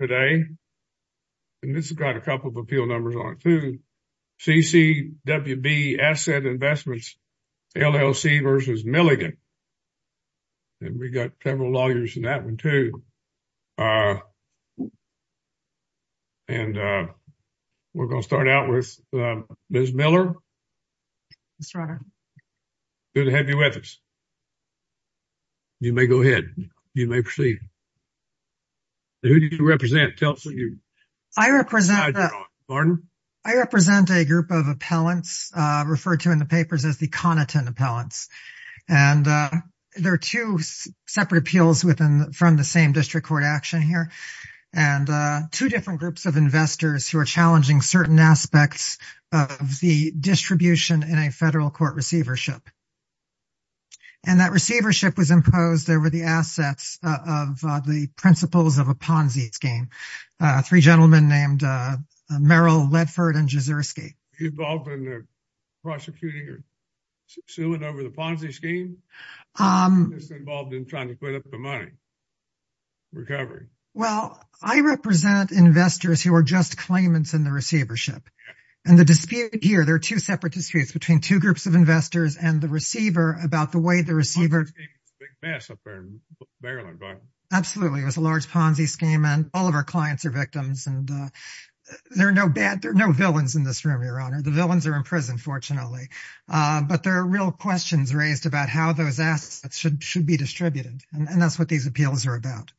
Today, and this has got a couple of appeal numbers on it too, CCWB Asset Investments, LLC v. Milligan. And we got several lawyers in that one too. And we're going to start out with Ms. Miller. Yes, your honor. Good to have you with us. You may go ahead. You may proceed. Who do you represent? I represent a group of appellants referred to in the papers as the Coniton appellants. And there are 2 separate appeals within from the same district court action here and 2 different groups of investors who are challenging certain aspects of the distribution in a federal court receivership. And that receivership was imposed over the assets of the principles of a Ponzi scheme. 3 gentlemen named Meryl Ledford and Jizersky. Involved in prosecuting or suing over the Ponzi scheme? Involved in trying to put up the money. Recovery well, I represent investors who are just claimants in the receivership. And the dispute here, there are 2 separate disputes between 2 groups of investors and the receiver about the way the receiver. Mass up there. Absolutely. It was a large Ponzi scheme and all of our clients are victims and there are no bad. There are no villains in this room. Your honor. The villains are in prison. Fortunately, but there are real questions raised about how those assets should should be distributed. And that's what these appeals are about.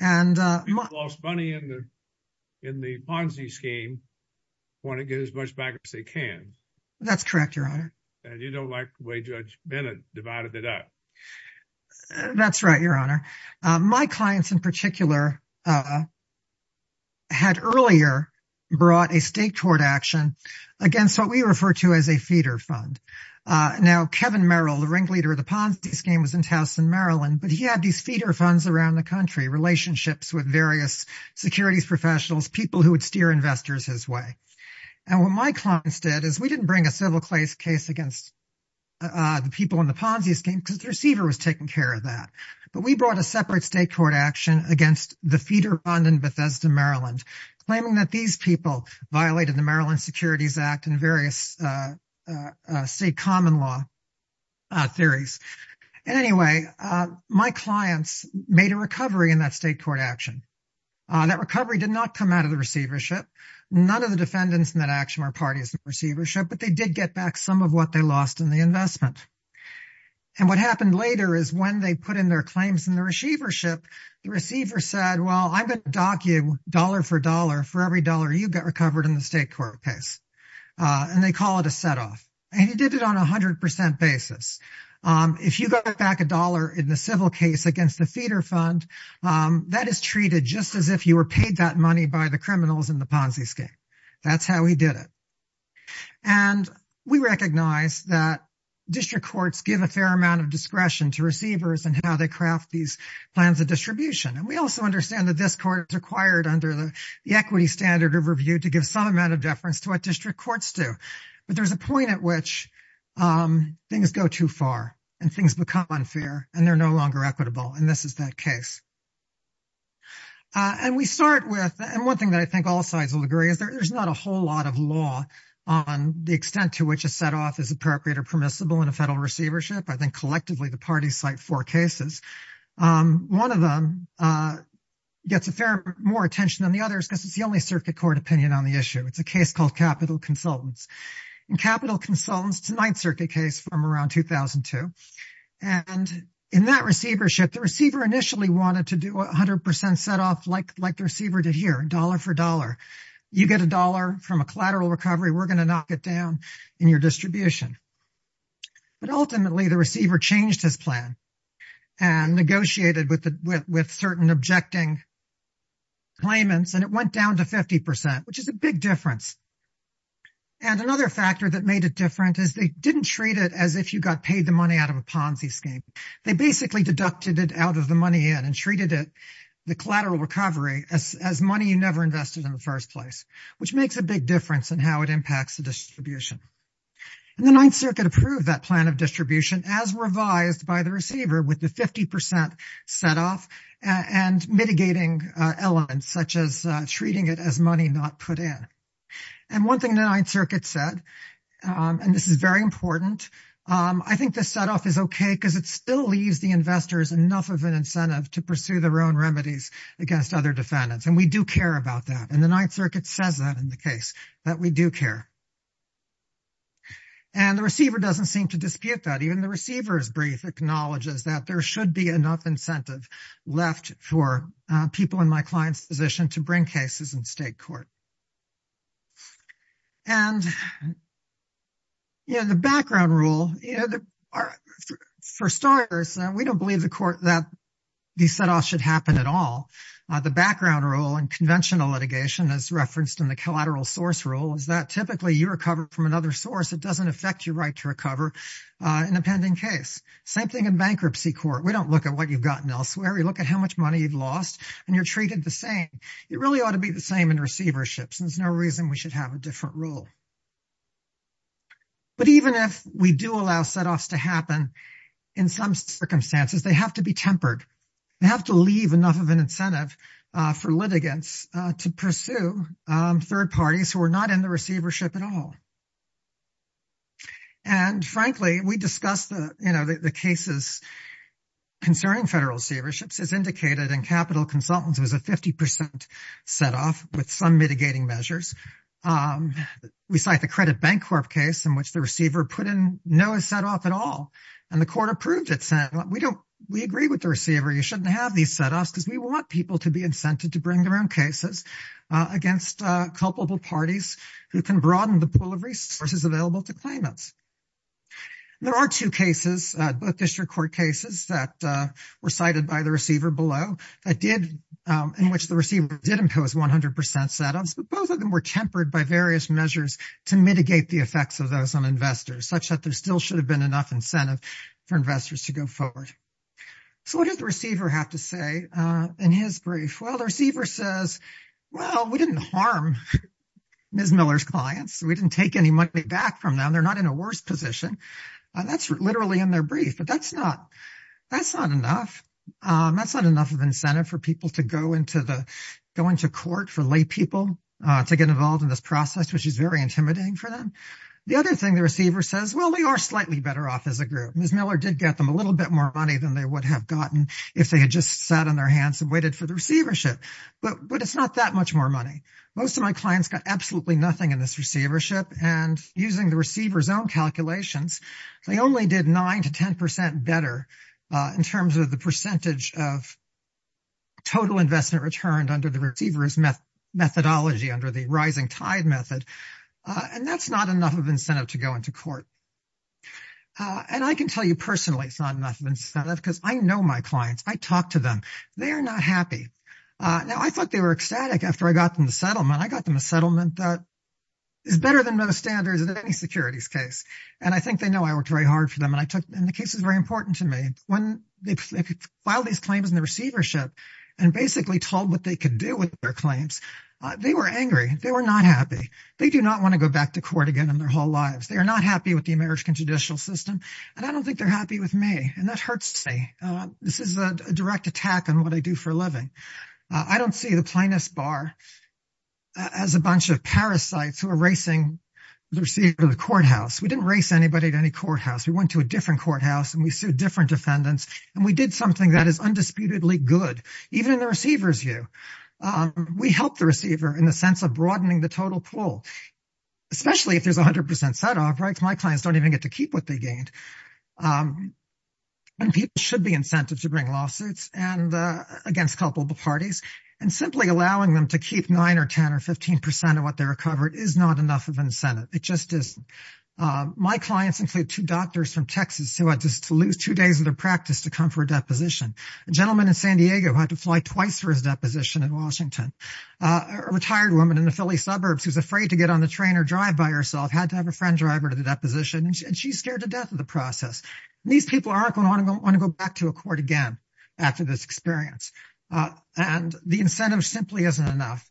And lost money in the, in the Ponzi scheme. Want to get as much back as they can. That's correct. Your honor. And you don't like the way judge Bennett divided it up. That's right. Your honor my clients in particular. Had earlier brought a state toward action against what we refer to as a feeder fund. Uh, now Kevin Merrill, the ringleader of the Ponzi scheme was in Towson, Maryland, but he had these feeder funds around the country relationships with various securities professionals, people who would steer investors his way. And what my clients did is we didn't bring a civil case case against. The people in the Ponzi scheme, because the receiver was taking care of that, but we brought a separate state court action against the feeder on in Bethesda, Maryland, claiming that these people violated the Maryland securities act and various. Uh, say, common law theories and anyway, my clients made a recovery in that state court action. That recovery did not come out of the receivership. None of the defendants in that action are parties receivership, but they did get back some of what they lost in the investment. And what happened later is when they put in their claims in the receivership, the receiver said, well, I'm going to dock you dollar for dollar for every dollar. You get recovered in the state court case. And they call it a set off, and he did it on a 100% basis. If you got back a dollar in the civil case against the feeder fund that is treated just as if you were paid that money by the criminals in the Ponzi scheme. That's how he did it and we recognize that. District courts give a fair amount of discretion to receivers and how they craft these plans of distribution. And we also understand that this court required under the equity standard of review to give some amount of deference to what district courts do. But there's a point at which things go too far and things become unfair, and they're no longer equitable. And this is that case. And we start with and 1 thing that I think all sides will agree is there's not a whole lot of law on the extent to which a set off is appropriate or permissible in a federal receivership. I think collectively, the parties site for cases. 1 of them gets a fair more attention than the others because it's the only circuit court opinion on the issue. It's a case called capital consultants and capital consultants to 9th circuit case from around 2002. And in that receivership, the receiver initially wanted to do 100% set off like, like the receiver to here dollar for dollar. You get a dollar from a collateral recovery. We're going to knock it down in your distribution. But ultimately, the receiver changed his plan. And negotiated with with certain objecting. Claimants, and it went down to 50%, which is a big difference. And another factor that made it different is they didn't treat it as if you got paid the money out of a Ponzi scheme. They basically deducted it out of the money in and treated it the collateral recovery as money. You never invested in the 1st place, which makes a big difference in how it impacts the distribution. And the 9th circuit approved that plan of distribution as revised by the receiver with the 50% set off and mitigating elements, such as treating it as money not put in. And 1 thing that 9th circuit said, and this is very important. I think the set off is okay because it still leaves the investors enough of an incentive to pursue their own remedies against other defendants. And we do care about that. And the 9th circuit says that in the case that we do care. And the receiver doesn't seem to dispute that even the receivers brief acknowledges that there should be enough incentive left for people in my client's position to bring cases in state court. And, you know, the background rule for starters, we don't believe the court that. The set off should happen at all the background role and conventional litigation as referenced in the collateral source rule is that typically you recover from another source. It doesn't affect your right to recover an appending case. Same thing in bankruptcy court. We don't look at what you've gotten elsewhere. You look at how much money you've lost and you're treated the same. It really ought to be the same in receiverships and there's no reason we should have a different role. But even if we do allow set offs to happen in some circumstances, they have to be tempered. They have to leave enough of an incentive for litigants to pursue 3rd parties who are not in the receivership at all. And frankly, we discussed the cases. Concerning federal receiverships is indicated and capital consultants was a 50% set off with some mitigating measures. Um, we cite the credit bank corp case in which the receiver put in no set off at all and the court approved it. We don't we agree with the receiver. You shouldn't have these set us because we want people to be incented to bring their own cases. Against culpable parties who can broaden the pool of resources available to claimants. There are 2 cases district court cases that were cited by the receiver below. I did in which the receiver did impose 100% setups, but both of them were tempered by various measures to mitigate the effects of those on investors such that there still should have been enough incentive for investors to go forward. So, what does the receiver have to say in his brief? Well, the receiver says, well, we didn't harm. Ms. Miller's clients, we didn't take any money back from them. They're not in a worse position. That's literally in their brief, but that's not that's not enough. That's not enough of incentive for people to go into the going to court for lay people to get involved in this process, which is very intimidating for them. The other thing the receiver says, well, we are slightly better off as a group. Ms. Miller did get them a little bit more money than they would have gotten if they had just sat on their hands and waited for the receivership, but it's not that much more money. Most of my clients got absolutely nothing in this receivership and using the receivers own calculations. They only did 9 to 10% better in terms of the percentage of. The receivers methodology under the rising tide method, and that's not enough of incentive to go into court. And I can tell you personally, it's not enough because I know my clients. I talk to them. They are not happy. Now, I thought they were ecstatic after I got them the settlement. I got them a settlement. That is better than most standards in any securities case, and I think they know I worked very hard for them and I took and the case is very important to me when they file these claims in the receivership and basically told what they could do with their claims. They were angry. They were not happy. They do not want to go back to court again in their whole lives. They are not happy with the marriage and judicial system. And I don't think they're happy with me. And that hurts me. This is a direct attack on what I do for a living. I don't see the plaintiff's bar. As a bunch of parasites who are racing the receiver of the courthouse, we didn't race anybody to any courthouse. We went to a different courthouse and we sued different defendants and we did something that is undisputedly good, even in the receiver's view. We help the receiver in the sense of broadening the total pool, especially if there's 100% set off, right? My clients don't even get to keep what they gained. And people should be incented to bring lawsuits and against culpable parties and simply allowing them to keep 9 or 10 or 15% of what they recovered is not enough of an incentive. It just is my clients include 2 doctors from Texas who had just to lose 2 days of their practice to come for a deposition, a gentleman in San Diego had to fly twice for his deposition in Washington, a retired woman in the Philly suburbs, who's afraid to get on the train or drive by herself, had to have a friend driver to the deposition, and she's scared to death of the prosecution. These people aren't going to want to go back to a court again after this experience. And the incentive simply isn't enough.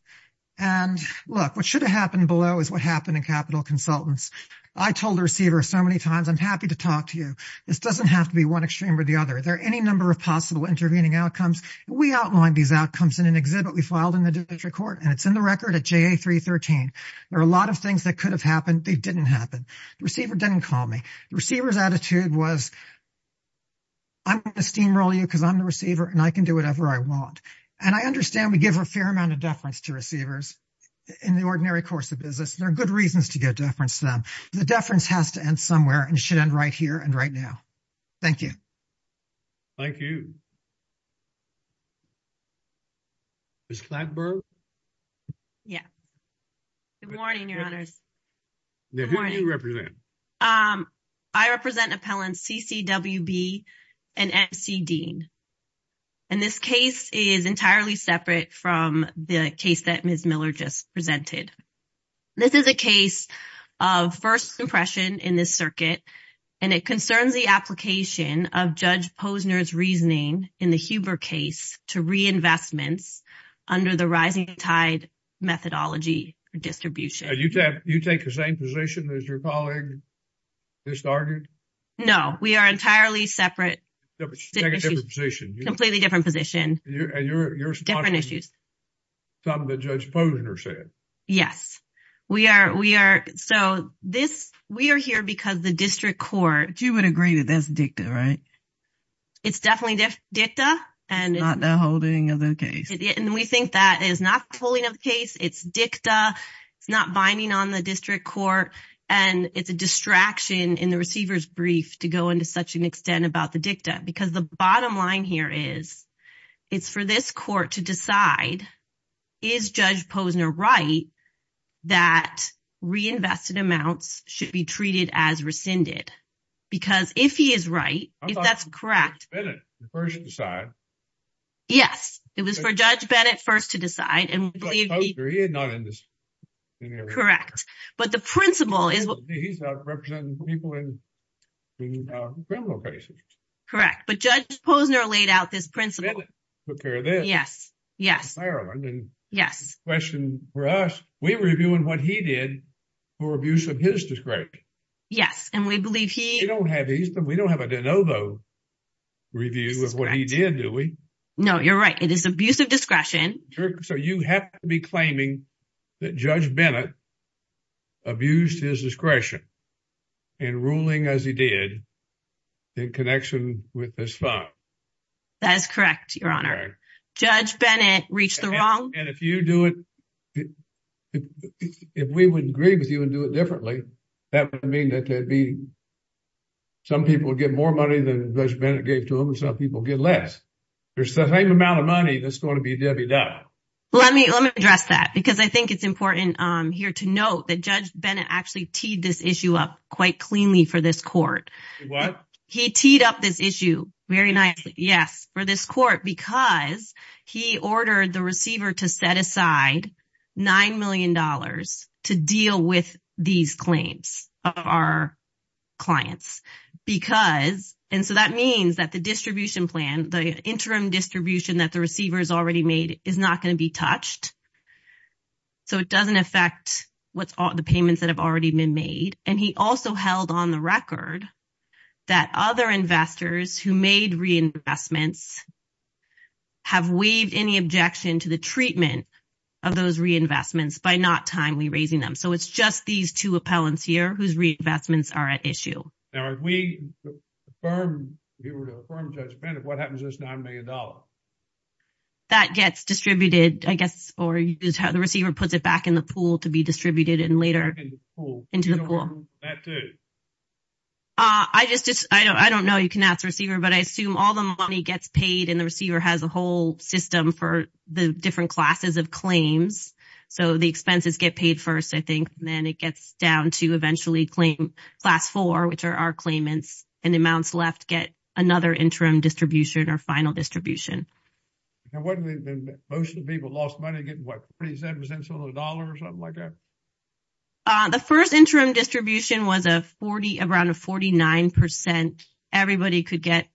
And look, what should have happened below is what happened in capital consultants. I told the receiver so many times, I'm happy to talk to you. This doesn't have to be one extreme or the other. There are any number of possible intervening outcomes. We outlined these outcomes in an exhibit we filed in the district court, and it's in the record at JA 313. There are a lot of things that could have happened. They didn't happen. The receiver didn't call me. The receiver's attitude was. I'm going to steamroll you because I'm the receiver and I can do whatever I want. And I understand we give a fair amount of deference to receivers. In the ordinary course of business, there are good reasons to get deference to them. The deference has to end somewhere and should end right here and right now. Thank you. Thank you. Ms. Gladberg? Yeah. Good morning, your honors. I represent appellants CCWB and MC Dean. And this case is entirely separate from the case that Ms. Miller just presented. This is a case of first impression in this circuit, and it concerns the application of Judge Posner's reasoning in the Huber case to reinvestments under the rising tide methodology distribution. You take the same position as your colleague just argued? No, we are entirely separate. Completely different position. You're talking about something that Judge Posner said? Yes. We are here because the district court. But you would agree that that's dicta, right? It's definitely dicta. It's not the holding of the case. And we think that is not the holding of the case. It's dicta. It's not binding on the district court. And it's a distraction in the receiver's brief to go into such an extent about the dicta. Because the bottom line here is, it's for this court to decide, is Judge Posner right, that reinvested amounts should be treated as rescinded? Because if he is right, if that's correct. Bennett first decide. Yes, it was for Judge Bennett first to decide. Correct. But the principle is he's representing people in criminal cases. Correct. But Judge Posner laid out this principle. Yes, yes. Yes. Question for us, we're reviewing what he did for abuse of his discretion. Yes. And we believe he... We don't have a de novo review of what he did, do we? No, you're right. It is abuse of discretion. So you have to be claiming that Judge Bennett abused his discretion in ruling as he did in connection with this file. That is correct, Your Honor. Judge Bennett reached the wrong... And if you do it... If we would agree with you and do it differently, that would mean that there'd be... Some people get more money than Judge Bennett gave to him and some people get less. There's the same amount of money that's going to be debited. Let me address that because I think it's important here to note that Judge Bennett actually teed this issue up quite cleanly for this court. He teed up this issue very nicely, yes, for this court because he ordered the receiver to set aside $9 million to deal with these claims of our clients. And so that means that the distribution plan, the interim distribution that the receiver has already made is not going to be touched. So it doesn't affect the payments that have already been made. And he also held on the record that other investors who made reinvestments have waived any objection to the treatment of those reinvestments by not timely raising them. So it's just these two appellants here whose reinvestments are at issue. Now, if we affirm... If we were to affirm Judge Bennett, what happens to this $9 million? That gets distributed, I guess, or the receiver puts it back in the pool to be distributed and later... Back in the pool. Into the pool. You don't want to move that, do you? I just... I don't know. You can ask the receiver, but I assume all the money gets paid and the receiver has a whole system for the different classes of claims. So the expenses get paid first, I think, and then it gets down to eventually claim class four, which are our claimants, and amounts left get another interim distribution or final distribution. And wouldn't it have been... Most of the people lost money getting, what, 30 cents on the dollar or something like that? The first interim distribution was around a 49%. Everybody could get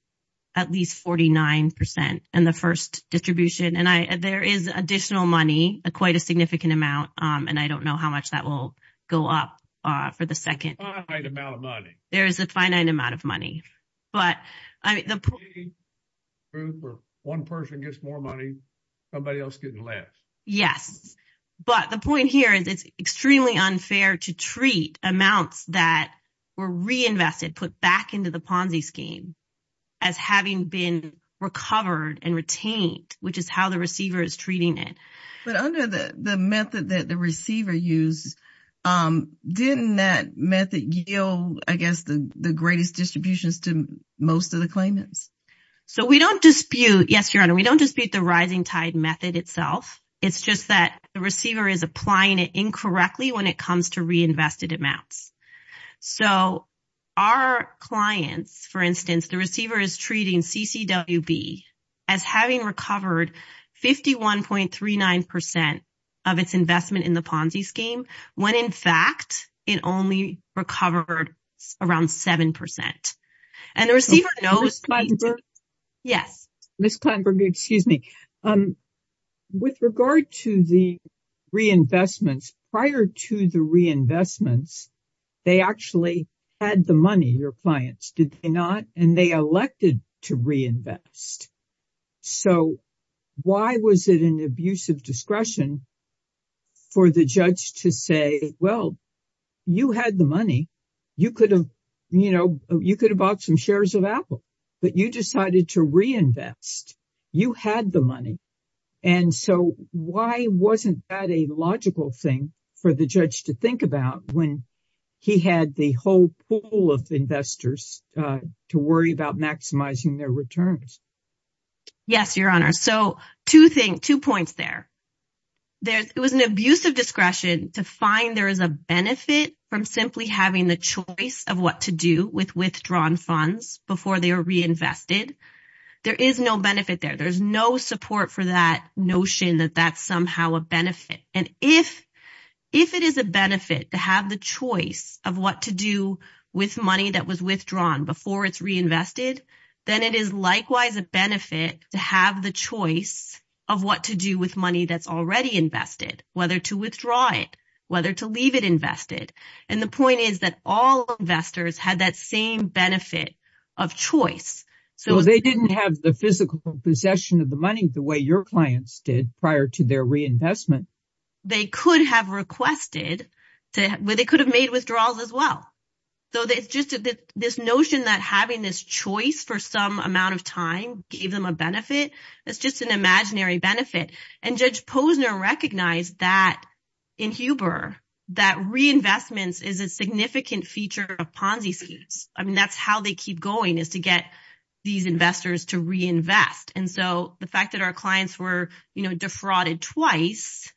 at least 49% in the first distribution. And there is additional money, quite a significant amount, and I don't know how much that will go up for the second. Finite amount of money. There is a finite amount of money. But I mean... If one person gets more money, somebody else is getting less. Yes. But the point here is it's extremely unfair to treat amounts that were reinvested, put back into the Ponzi scheme, as having been recovered and retained, which is how the receiver is treating it. But under the method that the receiver used, didn't that method yield, I guess, the greatest distributions to most of the claimants? So we don't dispute... Yes, Your Honor. We don't dispute the rising tide method itself. It's just that the receiver is applying it incorrectly when it comes to reinvested amounts. So our clients, for instance, the receiver is treating CCWB as having recovered 51.39% of its investment in the Ponzi scheme, when in fact it only recovered around 7%. And the receiver knows... Ms. Klineberg. Yes. Ms. Klineberg, excuse me. With regard to the reinvestments, prior to the reinvestments, they actually had the money, your clients, did they not? And they elected to reinvest. So why was it an abuse of discretion for the judge to say, well, you had the money. You could have bought some shares of Apple, but you decided to reinvest. You had the money. And so why wasn't that a logical thing for the judge to think about when he had the whole pool of investors to worry about maximizing their returns? Yes, Your Honor. So two points there. It was an abuse of discretion to find there is a choice of what to do with withdrawn funds before they are reinvested. There is no benefit there. There's no support for that notion that that's somehow a benefit. And if it is a benefit to have the choice of what to do with money that was withdrawn before it's reinvested, then it is likewise a benefit to have the choice of what to do with money that's already invested, whether to withdraw it, whether to leave it invested. And the point is that all investors had that same benefit of choice. So they didn't have the physical possession of the money the way your clients did prior to their reinvestment. They could have requested to where they could have made withdrawals as well. So it's just this notion that having this choice for some amount of gave them a benefit. It's just an imaginary benefit. And Judge Posner recognized that in Huber that reinvestments is a significant feature of Ponzi schemes. I mean, that's how they keep going is to get these investors to reinvest. And so the fact that our clients were defrauded twice,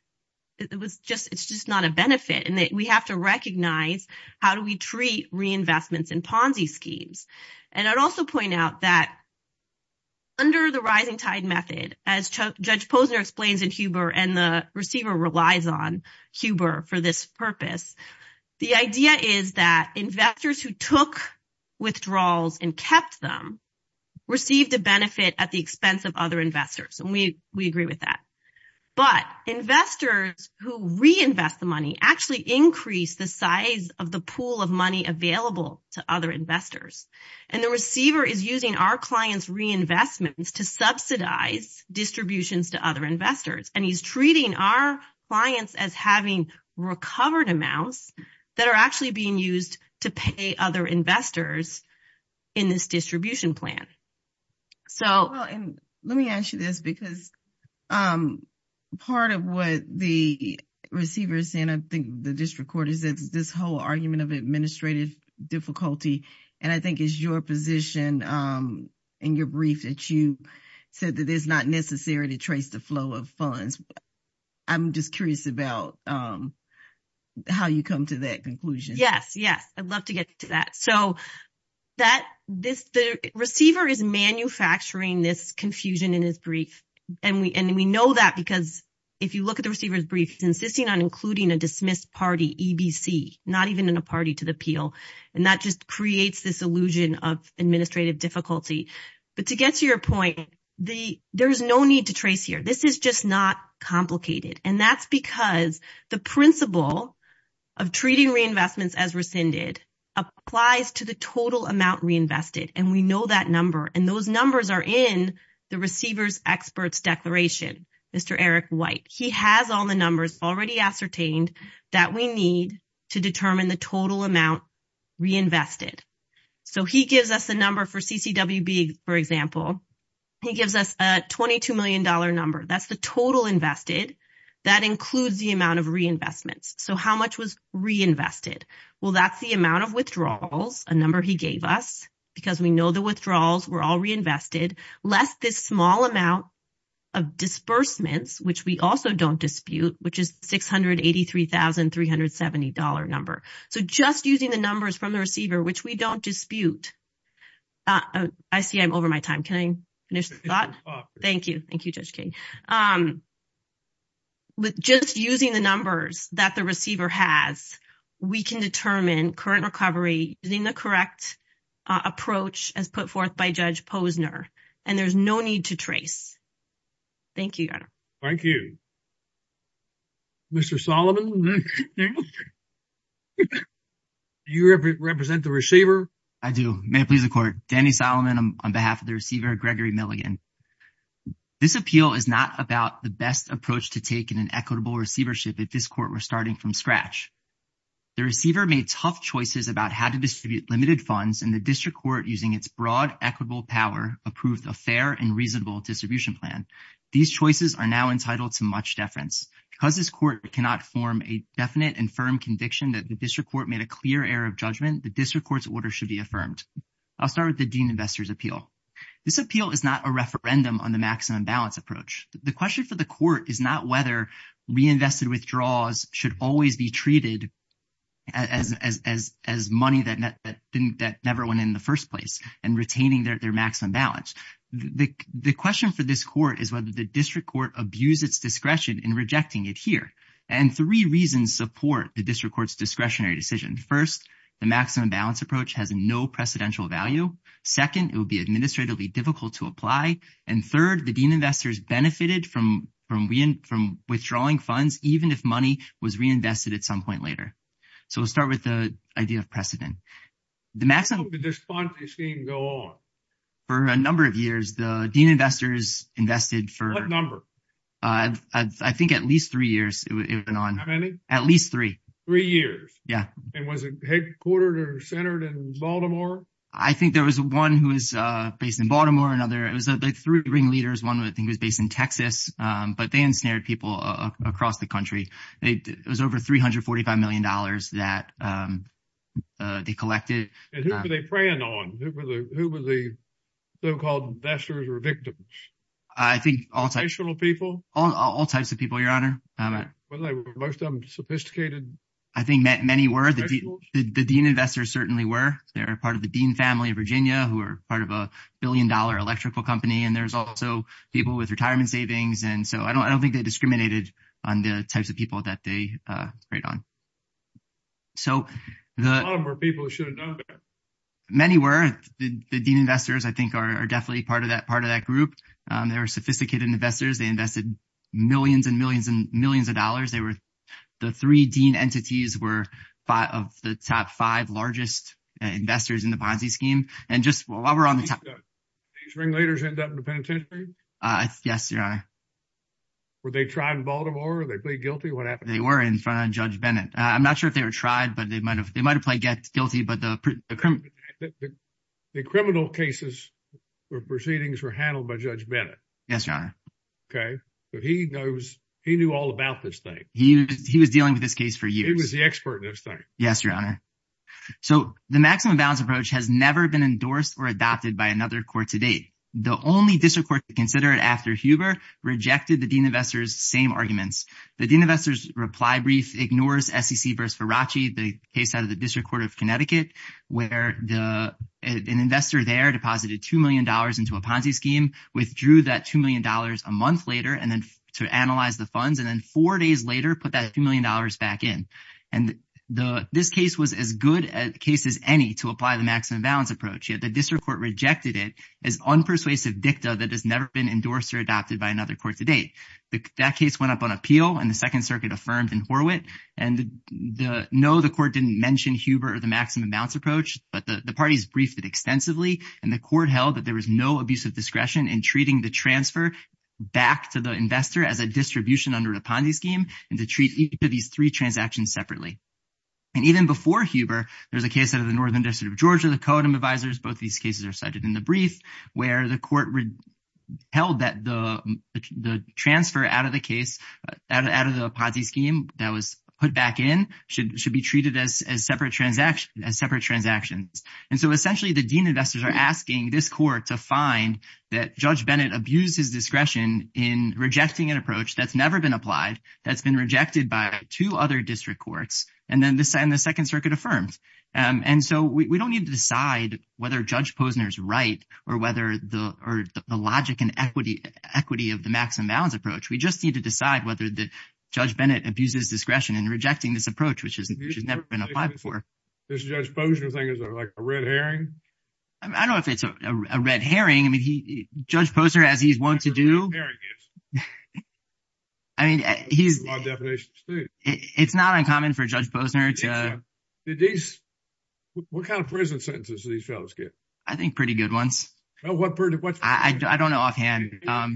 it was just it's just not a benefit and that we have to recognize how do treat reinvestments in Ponzi schemes. And I'd also point out that under the rising tide method, as Judge Posner explains in Huber and the receiver relies on Huber for this purpose, the idea is that investors who took withdrawals and kept them received a benefit at the expense of other investors. And we agree with that. But investors who reinvest the money actually increase the size of the pool of money available to other investors. And the receiver is using our clients reinvestments to subsidize distributions to other investors. And he's treating our clients as having recovered amounts that are actually being used to pay other investors in this distribution plan. So let me ask you this because part of what the receiver is saying, I think the district court is this whole argument of administrative difficulty. And I think it's your position in your brief that you said that it's not necessary to trace the flow of funds. I'm just curious about how you come to that conclusion. Yes, yes. I'd love to get to that. So that this the receiver is manufacturing this confusion in his brief. And we and we know that because if you look at the receiver's brief, he's insisting on including a dismissed party, EBC, not even in a party to the appeal. And that just creates this illusion of administrative difficulty. But to get to your point, the there's no need to trace here. This is just not complicated. And that's because the principle of treating reinvestments as rescinded applies to the total amount reinvested. And we know that number and those numbers are in the receiver's experts declaration. Mr. Eric White, he has all the numbers already ascertained that we need to determine the total amount reinvested. So he gives us a number for CCWB, for example, he gives us a 22 million dollar number. That's the total invested. That includes the amount of reinvestments. So how much was reinvested? Well, that's the amount of withdrawals, a number he gave us, because we know the withdrawals were all reinvested, less this small amount of disbursements, which we also don't dispute, which is $683,370 number. So just using the numbers from the receiver, which we don't dispute. I see I'm over my time. Can I finish the thought? Thank you. Thank you, Judge King. With just using the numbers that the receiver has, we can determine current recovery using the and there's no need to trace. Thank you, Your Honor. Thank you. Mr. Solomon, you represent the receiver? I do. May it please the court. Danny Solomon on behalf of the receiver, Gregory Milligan. This appeal is not about the best approach to take in an equitable receivership. At this court, we're starting from scratch. The receiver made tough choices about how to distribute fair and reasonable distribution plan. These choices are now entitled to much deference. Because this court cannot form a definite and firm conviction that the district court made a clear error of judgment, the district court's order should be affirmed. I'll start with the Dean Investor's Appeal. This appeal is not a referendum on the maximum balance approach. The question for the court is not whether reinvested withdrawals should always be treated as money that never went in the first place and retaining their maximum balance. The question for this court is whether the district court abuse its discretion in rejecting it here. And three reasons support the district court's discretionary decision. First, the maximum balance approach has no precedential value. Second, it would be administratively difficult to apply. And third, the Dean Investors benefited from withdrawing funds, even if money was reinvested at some point later. So we'll start with the idea of precedent. The maximum... How long did this fund scheme go on? For a number of years, the Dean Investors invested for... What number? I think at least three years it went on. How many? At least three. Three years? Yeah. And was it headquartered or centered in Baltimore? I think there was one who was based in Baltimore, another... It was like three ringleaders. One, I think, was based in Texas, but they ensnared people across the country. It was over $345 million that they collected. And who were they preying on? Who were the so-called investors or victims? I think all types. National people? All types of people, Your Honor. Most of them sophisticated? I think many were. The Dean Investors certainly were. They're part of the Dean family of Virginia, who are part of a billion-dollar electrical company. And there's also people with retirement savings. And so I don't think they discriminated on the types of people that they preyed on. So the... I don't know. Many were. The Dean Investors, I think, are definitely part of that group. They were sophisticated investors. They invested millions and millions and millions of dollars. The three Dean entities were the top five largest investors in the Ponzi scheme. And just while we're on the topic... These ringleaders ended up in the penitentiary? Yes, Your Honor. Were they tried in Baltimore? Were they played guilty? What happened? They were in front of Judge Bennett. I'm not sure if they were tried, but they might have played guilty. The criminal cases or proceedings were handled by Judge Bennett. Yes, Your Honor. Okay. But he knew all about this thing. He was dealing with this case for years. He was the expert in this thing. Yes, Your Honor. So the maximum balance approach has never been endorsed or adopted by another court to date. The only district court to consider it after Huber rejected the Dean Investors' reply brief ignores SEC v. Ferracci, the case out of the District Court of Connecticut, where an investor there deposited $2 million into a Ponzi scheme, withdrew that $2 million a month later to analyze the funds, and then four days later put that $2 million back in. This case was as good a case as any to apply the maximum balance approach, yet the district court rejected it as unpersuasive dicta that has never been endorsed or adopted by another court to date. That case went up on appeal, and the Second Circuit affirmed in Horwitt. And no, the court didn't mention Huber or the maximum balance approach, but the parties briefed it extensively, and the court held that there was no abusive discretion in treating the transfer back to the investor as a distribution under a Ponzi scheme and to treat each of these three transactions separately. And even before Huber, there was a case out of the Northern District of Georgia, the Cotham Advisors. Both of these cases are cited in the brief, where the court held that the transfer out of the case, out of the Ponzi scheme that was put back in, should be treated as separate transactions. And so essentially, the dean investors are asking this court to find that Judge Bennett abused his discretion in rejecting an approach that's never been applied, that's been rejected by two other district courts, and then the Second Circuit affirms. And so we don't need to decide whether Judge Posner's right or whether the logic and equity of the maximum balance approach. We just need to decide whether Judge Bennett abuses discretion in rejecting this approach, which has never been applied before. This Judge Posner thing is like a red herring? I don't know if it's a red herring. I mean, Judge Posner, as he's wont to do. That's what a red herring is. I mean, he's... That's my definition of state. It's not uncommon for Judge Posner to... Did these... What kind of prison sentences did these fellows get? I think pretty good ones. I don't know offhand. I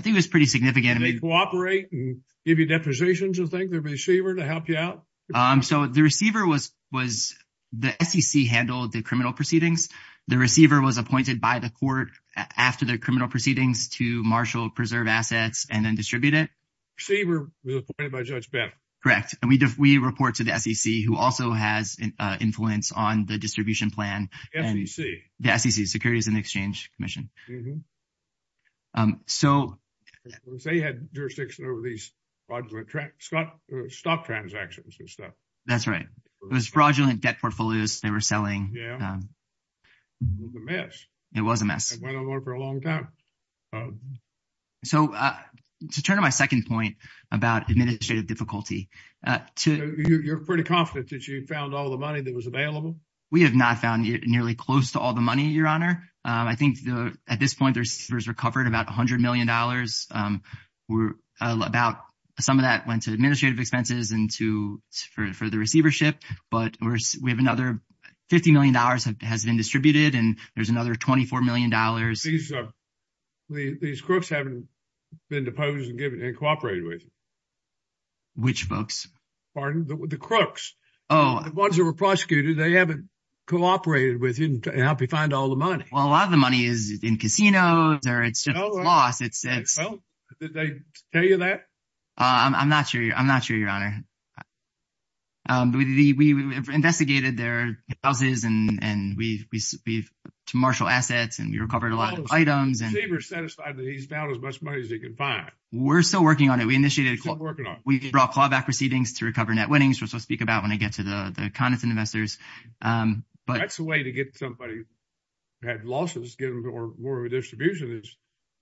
think it was pretty significant. Did they cooperate and give you depositions, you think, the receiver to help you out? So the receiver was... The SEC handled the criminal proceedings. The receiver was appointed by the court after the criminal proceedings to marshal, preserve assets, and then distribute it. Receiver was appointed by Judge Bennett? Correct. And we report to the SEC, who also has influence on the distribution plan. SEC? The SEC, Securities and Exchange Commission. So... They had jurisdiction over these fraudulent stock transactions and stuff. That's right. It was fraudulent debt portfolios they were selling. Yeah. It was a mess. It was a mess. It went on for a long time. So to turn to my second point about administrative difficulty... You're pretty confident that you found all the money that was available? We have not found nearly close to all the money, Your Honor. I think at this point, there's recovered about $100 million. Some of that went to administrative expenses and for the receivership, but we have another... $50 million has been distributed, and there's another $24 million. These crooks haven't been deposed and cooperated with? Which folks? Pardon? The crooks. Oh. The ones that were prosecuted, they haven't cooperated with you and helped you find all the money. Well, a lot of the money is in casinos or it's just lost. Well, did they tell you that? I'm not sure, Your Honor. We've investigated their houses and we've marshaled assets and we recovered a lot of items. The receiver's satisfied that he's found as much money as he can find. We're still working on it. We initiated a call. Still working on it. We brought callback receivings to recover net winnings, which we'll speak about when I get to the condensate investors. That's a way to get somebody who had losses, get them more of a distribution,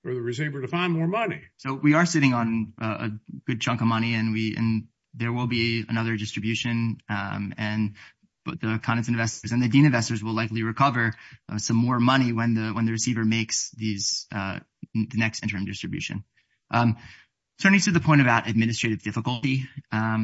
for the receiver to find more money. We are sitting on a good chunk of money and there will be another distribution. The condensate investors and the dean investors will likely recover some more money when the receiver makes the next interim distribution. Turning to the point about administrative difficulty, the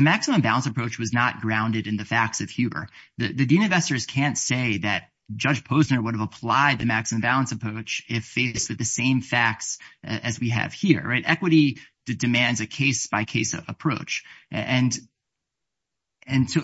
maximum balance approach was not grounded in the facts of Huber. The dean investors can't say that Judge Posner would have applied the maximum balance approach if faced with the same facts as we have here. Equity demands a case-by-case approach.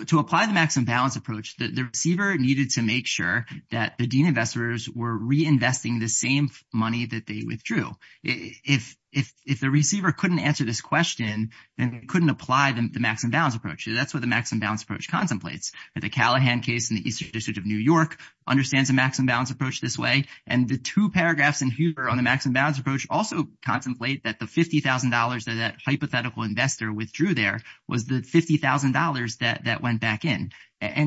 To apply the maximum balance approach, the receiver needed to make sure that the dean investors were reinvesting the same money that they withdrew. If the receiver couldn't answer this question, then they couldn't apply the maximum balance approach. That's what the maximum balance approach contemplates. The Callahan case in the Eastern District of New York understands the maximum balance approach this way. The two paragraphs in Huber on the maximum balance approach also contemplate that the $50,000 that that hypothetical investor withdrew there was the $50,000 that went back in.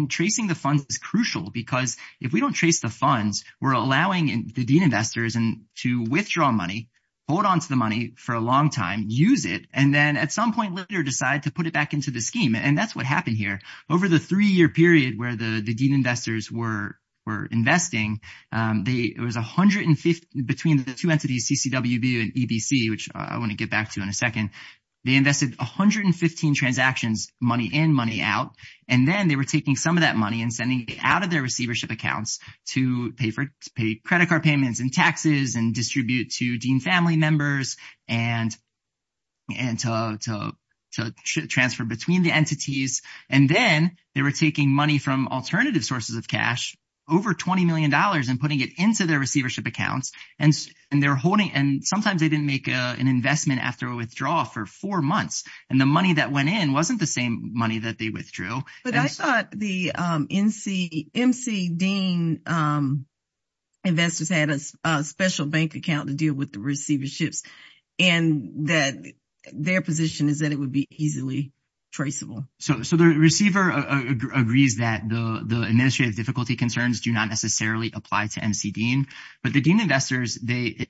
Tracing the funds is crucial because if we don't trace the funds, we're allowing the dean investors to withdraw money, hold onto the money for a long time, use it, and then at some point later decide to put it back into the scheme. That's what happened here. Over the three-year period where the dean investors were investing, between the two entities, CCWB and EBC, which I want to get back to in a second, they invested 115 transactions, money in, money out, and then they were taking some of that money and sending it out of their receivership accounts to pay for credit card payments and taxes and distribute to dean They were taking money from alternative sources of cash, over $20 million, and putting it into their receivership accounts. Sometimes they didn't make an investment after a withdrawal for four months, and the money that went in wasn't the same money that they withdrew. But I thought the MC dean investors had a special bank account to deal with the receiverships and that their position is that it would be easily traceable. So the receiver agrees that the administrative difficulty concerns do not necessarily apply to MC dean. But the dean investors, they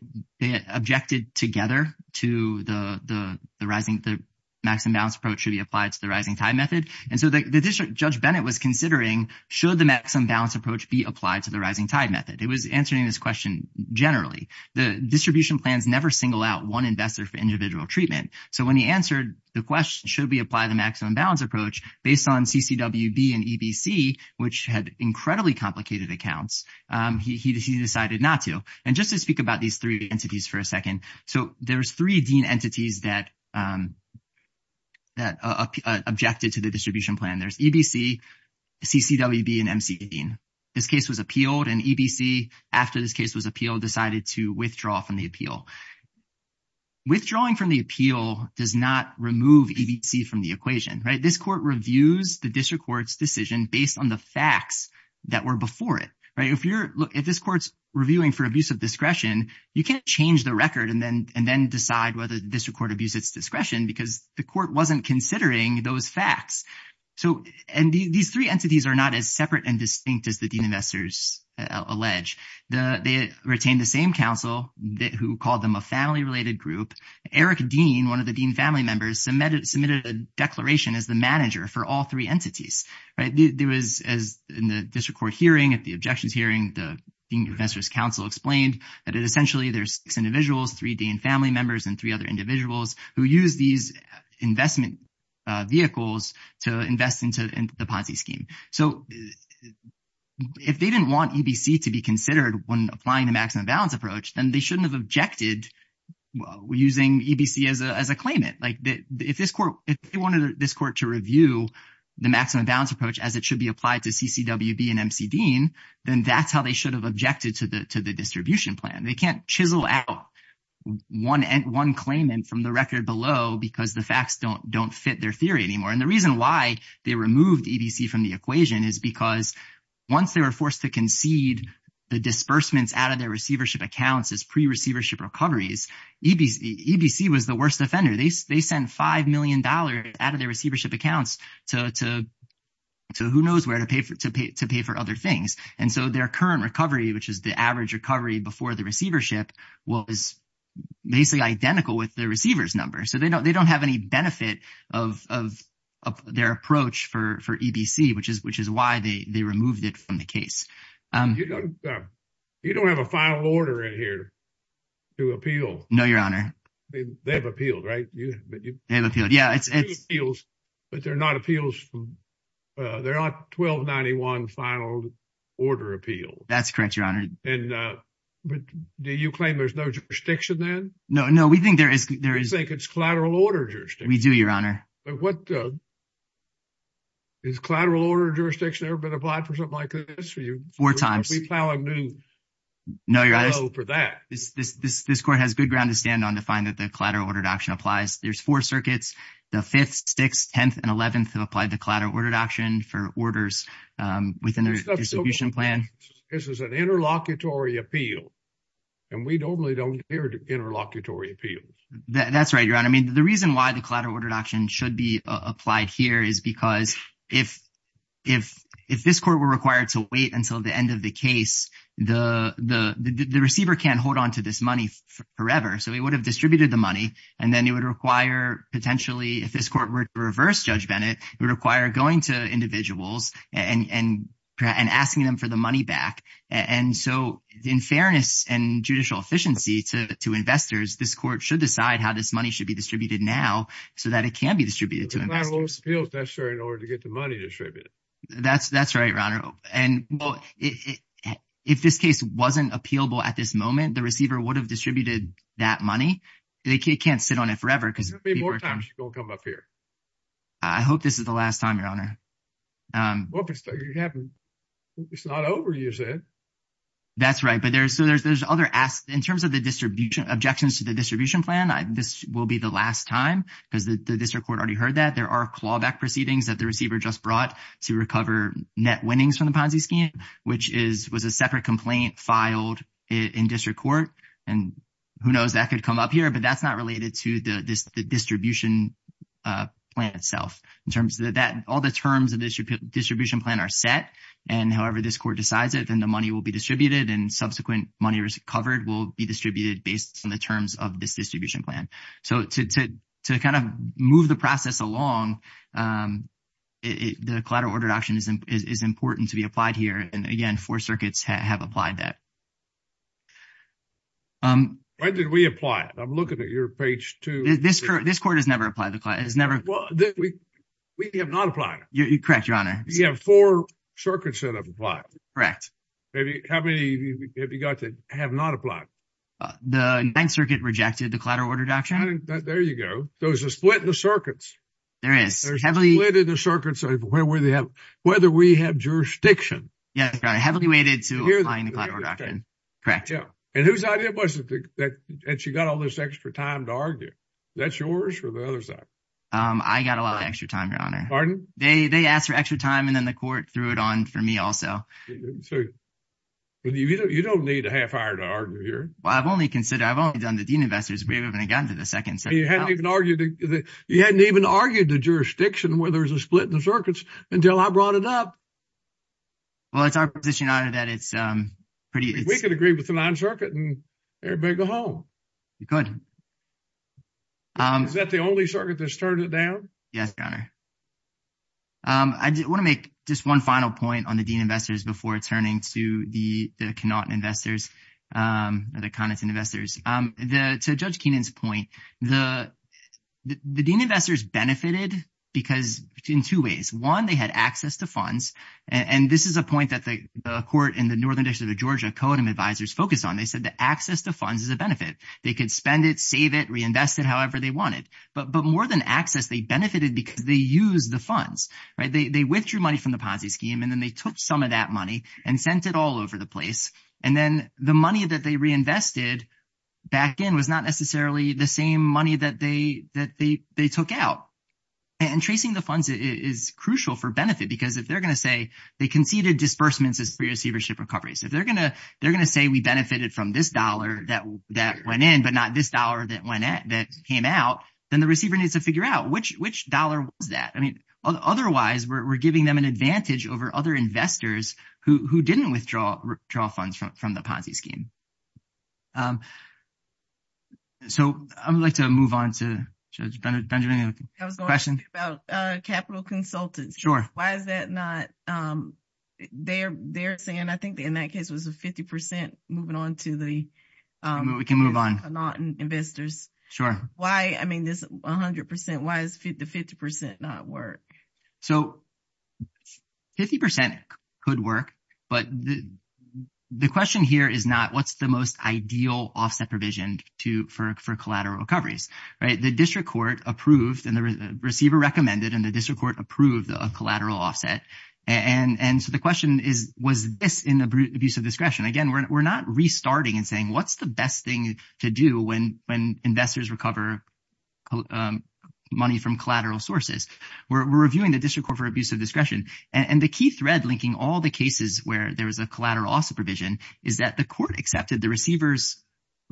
objected together to the maximum balance approach should be applied to the rising tide method. And so Judge Bennett was considering, should the maximum balance approach be applied to the rising tide method? It was answering this question generally. The distribution plans never single out one investor for individual treatment. So when he answered the question, should we apply the maximum balance approach based on CCWB and EBC, which had incredibly complicated accounts, he decided not to. And just to speak about these three entities for a second. So there's three dean entities that objected to the distribution plan. There's EBC, CCWB, and MC dean. This case was appealed, and EBC, after this case was appealed, decided to withdraw from the appeal. Withdrawing from the appeal does not remove EBC from the equation, right? This court reviews the district court's decision based on the facts that were before it, right? If you're, look, if this court's reviewing for abuse of discretion, you can't change the record and then decide whether the district court abused its discretion because the court wasn't considering those facts. So, and these three entities are not as separate and distinct as the dean investors allege. They retained the same counsel who called them a family-related group. Eric Dean, one of the dean family members, submitted a declaration as the manager for all three entities, right? There was, as in the district court hearing, at the objections hearing, the dean investors counsel explained that essentially there's six individuals, three dean family members, and three other individuals who use these investment vehicles to invest into the Ponzi scheme. So, if they didn't want EBC to be considered when applying the maximum balance approach, then they shouldn't have objected using EBC as a claimant. Like, if this court, if they wanted this court to review the maximum balance approach as it should be applied to CCWB and MC Dean, then that's how they should have objected to the distribution plan. They can't chisel out one claimant from the record below because the facts don't fit their theory anymore. The reason why they removed EBC from the equation is because once they were forced to concede the disbursements out of their receivership accounts as pre-receivership recoveries, EBC was the worst offender. They sent $5 million out of their receivership accounts to who knows where to pay for other things. So, their current recovery, which is the average recovery before the receivership, was basically identical with the receiver's number. So, they don't have any benefit of their approach for EBC, which is why they removed it from the case. You don't have a final order in here to appeal. No, Your Honor. They've appealed, right? But they're not appeals, they're not 1291 final order appeals. That's correct, Your Honor. And do you claim there's no jurisdiction then? No, no, we think there is. You think it's collateral order jurisdiction? We do, Your Honor. Has collateral order jurisdiction ever been applied for something like this for you? Four times. No, Your Honor, this court has good ground to stand on to find that the collateral ordered action applies. There's four circuits. The 5th, 6th, 10th, and 11th have applied to collateral ordered action for orders within their distribution plan. This is an interlocutory appeal, and we normally don't hear interlocutory appeals. That's right, Your Honor. I mean, the reason why the collateral ordered action should be applied here is because if this court were required to wait until the end of the case, the receiver can't hold on to this money forever. So he would have distributed the money, and then it would require potentially, if this court were to reverse Judge Bennett, it would require going to individuals and asking them for the money back. And so, in fairness and judicial efficiency to investors, this court should decide how this money should be distributed now so that it can be distributed to investors. There's not a lot of appeals necessary in order to get the money distributed. That's right, Your Honor. And if this case wasn't appealable at this moment, the receiver would have distributed that money. They can't sit on it forever. There's going to be more times you're going to come up here. I hope this is the last time, Your Honor. Well, if it's not over, you said. That's right. But there's other asks. In terms of the objections to the distribution plan, this will be the last time because the district court already heard that. There are clawback proceedings that the receiver just brought to recover net winnings from the Ponzi scheme, which was a separate complaint filed in district court. And who knows? That could come up here. But that's not related to the distribution plan itself. In terms of that, all the terms of this distribution plan are set. And however, this court decides it, then the money will be distributed and subsequent money covered will be distributed based on the terms of this distribution plan. So to kind of move the process along, the collateral ordered option is important to be applied here. And again, four circuits have applied that. When did we apply it? I'm looking at your page two. This court has never applied. Well, we have not applied. You're correct, Your Honor. You have four circuits that have applied. Correct. Maybe. How many have you got that have not applied? The Ninth Circuit rejected the collateral order doctrine. There you go. There's a split in the circuits. There is. There's a split in the circuits of whether we have jurisdiction. Yes. Heavily weighted to applying the collateral doctrine. Correct. Yeah. And whose idea was it that she got all this extra time to argue? That's yours or the other side? I got a lot of extra time, Your Honor. Pardon? They asked for extra time and then the court threw it on for me also. You don't need a half-iron to argue here. Well, I've only considered, I've only done the Dean Investors. We haven't even gotten to the second circuit. You hadn't even argued the jurisdiction where there was a split in the circuits until I brought it up. Well, it's our position, Your Honor, that it's pretty... We could agree with the Ninth Circuit and everybody go home. You could. Is that the only circuit that's turned it down? Yes, Your Honor. I want to make just one final point on the Dean Investors before turning to the Connaughton Investors, the Connachton Investors. To Judge Keenan's point, the Dean Investors benefited because in two ways. One, they had access to funds. And this is a point that the court in the Northern District of Georgia, CODEM Advisors focused on. They said that access to funds is a benefit. They could spend it, save it, reinvest it however they wanted. But more than access, they benefited because they used the funds, right? They withdrew money from the Ponzi scheme and then they took some of that money and sent it all over the place. And then the money that they reinvested back in was not necessarily the same money that they took out. And tracing the funds is crucial for benefit because if they're going to say they conceded disbursements as pre-receivership recoveries. They're going to say we benefited from this dollar that went in, but not this dollar that came out, then the receiver needs to figure out which dollar was that. Otherwise, we're giving them an advantage over other investors who didn't withdraw funds from the Ponzi scheme. So I would like to move on to Judge Benjamin. I was going to ask you about capital consultants. Sure. Why is that not, they're saying I think in that case it was a 50% moving on to the- We can move on.... investors. Sure. Why, I mean, this 100%, why is the 50% not work? So 50% could work, but the question here is not what's the most ideal offset provision for collateral recoveries, right? The district court approved and the receiver recommended and the district court approved a collateral offset. And so the question is, was this in the abuse of discretion? Again, we're not restarting and saying what's the best thing to do when investors recover money from collateral sources. We're reviewing the district court for abuse of discretion and the key thread linking all the cases where there was a collateral offset provision is that the court accepted the receiver's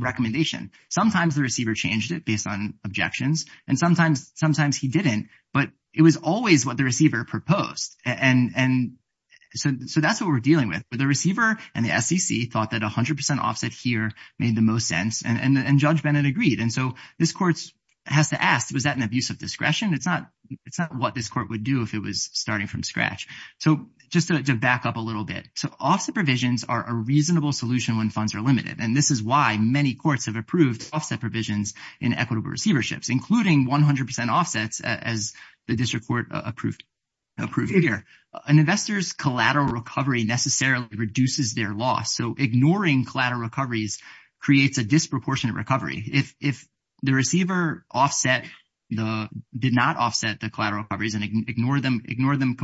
recommendation. Sometimes the receiver changed it based on objections and sometimes he didn't, but it was always what the receiver proposed. And so that's what we're dealing with, but the receiver and the SEC thought that 100% offset here made the most sense and Judge Bennett agreed. And so this court has to ask, was that an abuse of discretion? It's not what this court would do if it was starting from scratch. So just to back up a little bit, so offset provisions are a reasonable solution when funds are limited. And this is why many courts have approved offset provisions in equitable receiverships, including 100% offsets as the district court approved here. An investor's collateral recovery necessarily reduces their loss. So ignoring collateral recoveries creates a disproportionate recovery. If the receiver offset, did not offset the collateral recoveries and ignore them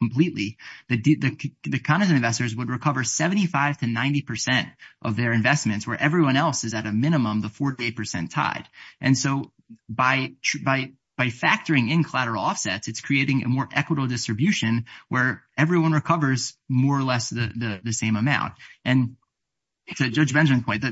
completely, the kind of investors would recover 75 to 90% of their investments where everyone else is at a minimum, the four day percent tide. And so by factoring in collateral offsets, it's creating a more equitable distribution where everyone recovers more or less the same amount. And to Judge Benjamin's point,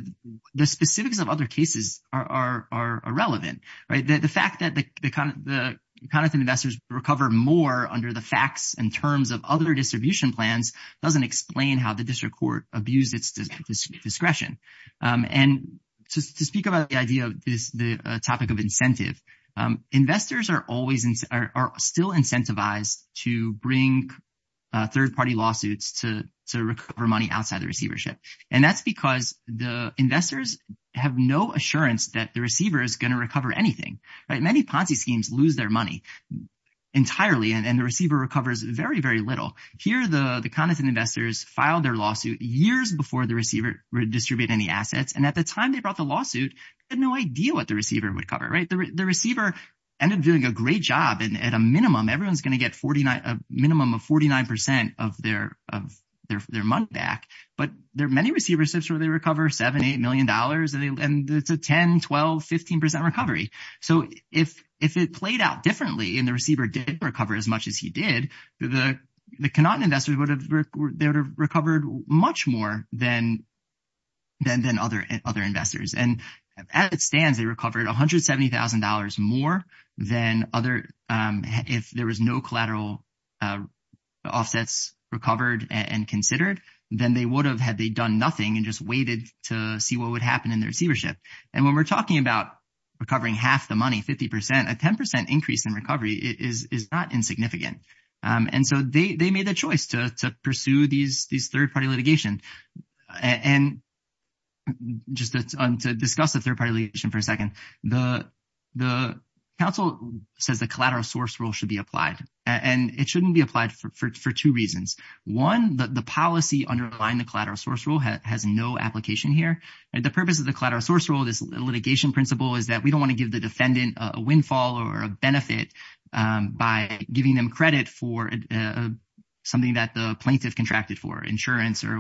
the specifics of other cases are irrelevant, right? The fact that the kind of investors recover more under the facts and terms of other distribution plans doesn't explain how the district court abused its discretion. And to speak about the idea of this topic of incentive, investors are still incentivized to bring third party lawsuits to recover money outside the receivership. And that's because the investors have no assurance that the receiver is going to recover anything, right? Many Ponzi schemes lose their money entirely and the receiver recovers very, very little. Here, the kind of investors filed their lawsuit years before the receiver distributed any assets. And at the time they brought the lawsuit, they had no idea what the receiver would cover, right? The receiver ended up doing a great job. And at a minimum, everyone's going to get a minimum of 49% of their money back. But there are many receiverships where they recover $7, $8 million and it's a 10, 12, 15% recovery. So if it played out differently and the receiver did recover as much as he did, the Connaughton investors would have recovered much more than other investors. And as it stands, they recovered $170,000 more than if there was no collateral offsets recovered and considered, then they would have had they done nothing and just waited to see what would happen in the receivership. And when we're talking about recovering half the money, 50%, a 10% increase in recovery is not insignificant. And so they made the choice to pursue these third-party litigation. And just to discuss the third-party litigation for a second, the council says the collateral source rule should be applied. And it shouldn't be applied for two reasons. One, the policy underlying the collateral source rule has no application here. The purpose of the collateral source rule, this litigation principle, is that we don't the defendant a windfall or a benefit by giving them credit for something that the plaintiff contracted for, insurance or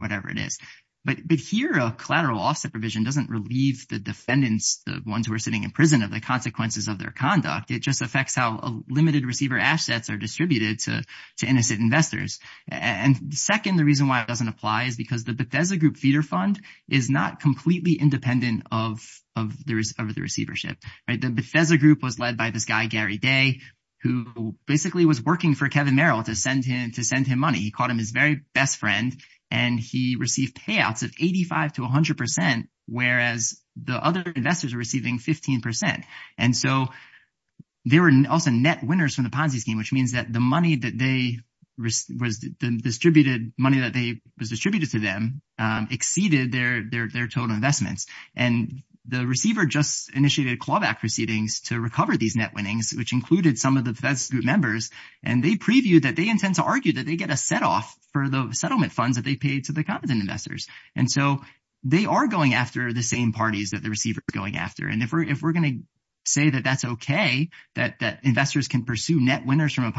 whatever it is. But here, a collateral offset provision doesn't relieve the defendants, the ones who are sitting in prison, of the consequences of their conduct. It just affects how limited receiver assets are distributed to innocent investors. And second, the reason why it doesn't apply is because the Bethesda Group feeder fund is not completely independent of the receivership. The Bethesda Group was led by this guy, Gary Day, who basically was working for Kevin Merrill to send him money. He called him his very best friend, and he received payouts of 85% to 100%, whereas the other investors are receiving 15%. And so they were also net winners from the Ponzi scheme, which means that the money that was distributed to them exceeded their total investments. And the receiver just initiated clawback proceedings to recover these net winnings, which included some of the Bethesda Group members. And they previewed that they intend to argue that they get a set off for the settlement funds that they paid to the competent investors. And so they are going after the same parties that the receiver is going after. And if we're going to say that that's OK, that investors can pursue net winners from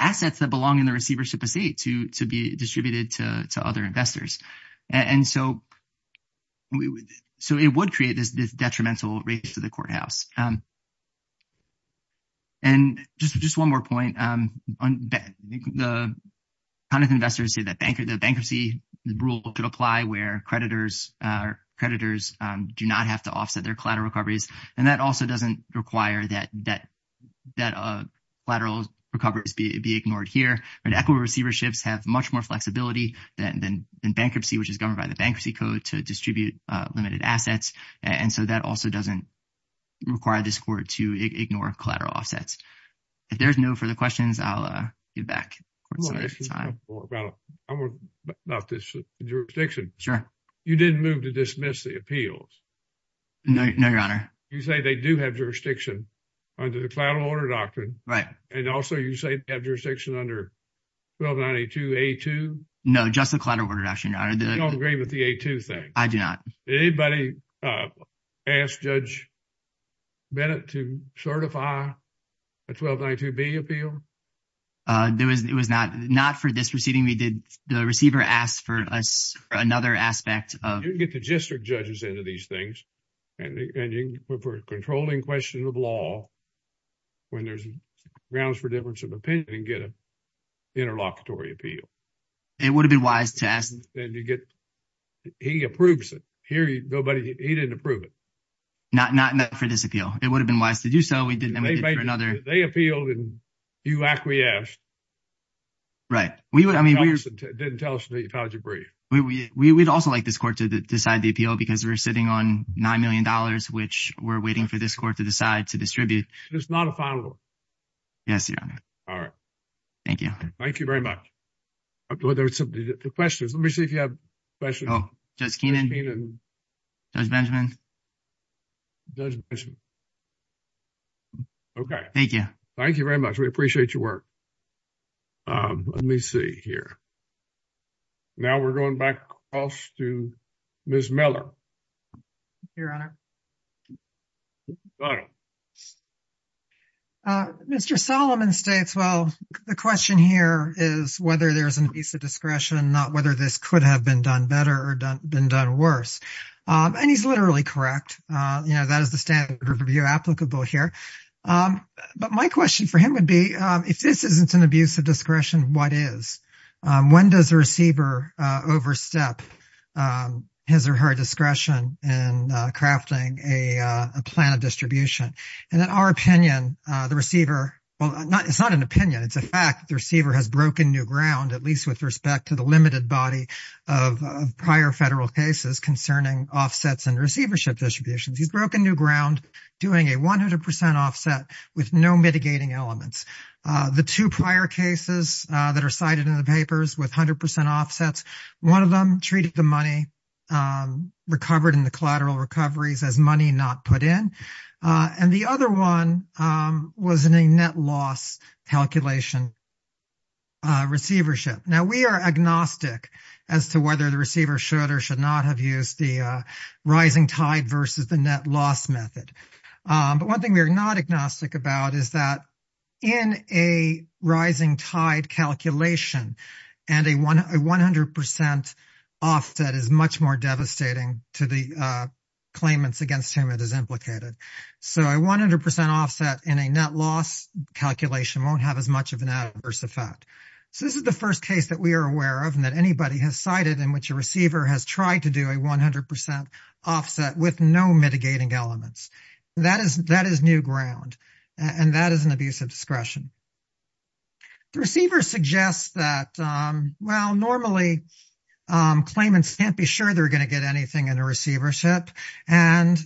assets that belong in the receivership estate to be distributed to other investors. And so it would create this detrimental race to the courthouse. And just one more point. The competent investors say that the bankruptcy rule could apply where creditors do not have to offset their collateral recoveries. And that also doesn't require that collateral recoveries be ignored here. Equity receiverships have much more flexibility than bankruptcy, which is governed by the Bankruptcy Code to distribute limited assets. And so that also doesn't require this court to ignore collateral offsets. If there's no further questions, I'll get back. I want to ask you about this jurisdiction. Sure. You didn't move to dismiss the appeals. No, Your Honor. You say they do have jurisdiction under the collateral order doctrine. Right. And also, you say they have jurisdiction under 1292A2? No, just the collateral order doctrine, Your Honor. You don't agree with the A2 thing? I do not. Did anybody ask Judge Bennett to certify a 1292B appeal? It was not for this proceeding. We did. The receiver asked for another aspect of. You can get the district judges into these things. And for a controlling question of law, when there's grounds for difference of opinion, you can get an interlocutory appeal. It would have been wise to ask. He approves it. Here, he didn't approve it. Not for this appeal. It would have been wise to do so. We did for another. They appealed and you acquiesced. Right. I mean, we didn't tell us until you filed your brief. We would also like this court to decide the appeal because we're sitting on $9 million, which we're waiting for this court to decide to distribute. It's not a final. Yes, Your Honor. All right. Thank you. Thank you very much. The questions. Let me see if you have questions. Oh, Judge Keenan. Judge Benjamin. Okay. Thank you. Thank you very much. We appreciate your work. Let me see here. Now, we're going back to Ms. Miller. Your Honor. Mr. Solomon states, well, the question here is whether there's an abuse of discretion, not whether this could have been done better or been done worse. And he's literally correct. That is the standard review applicable here. But my question for him would be, if this isn't an abuse of discretion, what is? When does the receiver overstep his or her discretion in crafting a plan of distribution? And in our opinion, the receiver, well, it's not an opinion. It's a fact the receiver has broken new ground, at least with respect to the limited body of prior federal cases concerning offsets and receivership distributions. He's broken new ground, doing a 100% offset with no mitigating elements. The two prior cases that are cited in the papers with 100% offsets, one of them treated the money recovered in the collateral recoveries as money not put in. And the other one was in a net loss calculation receivership. Now, we are agnostic as to whether the receiver should or should not have used the rising tide versus the net loss method. But one thing we are not agnostic about is that in a rising tide calculation and a 100% offset is much more devastating to the claimants against whom it is implicated. So a 100% offset in a net loss calculation won't have as much of an adverse effect. So this is the first case that we are aware of and that anybody has cited in which a receiver has tried to do a 100% offset with no mitigating elements. That is new ground, and that is an abuse of discretion. The receiver suggests that, well, normally claimants can't be sure they're going to get anything in a receivership. And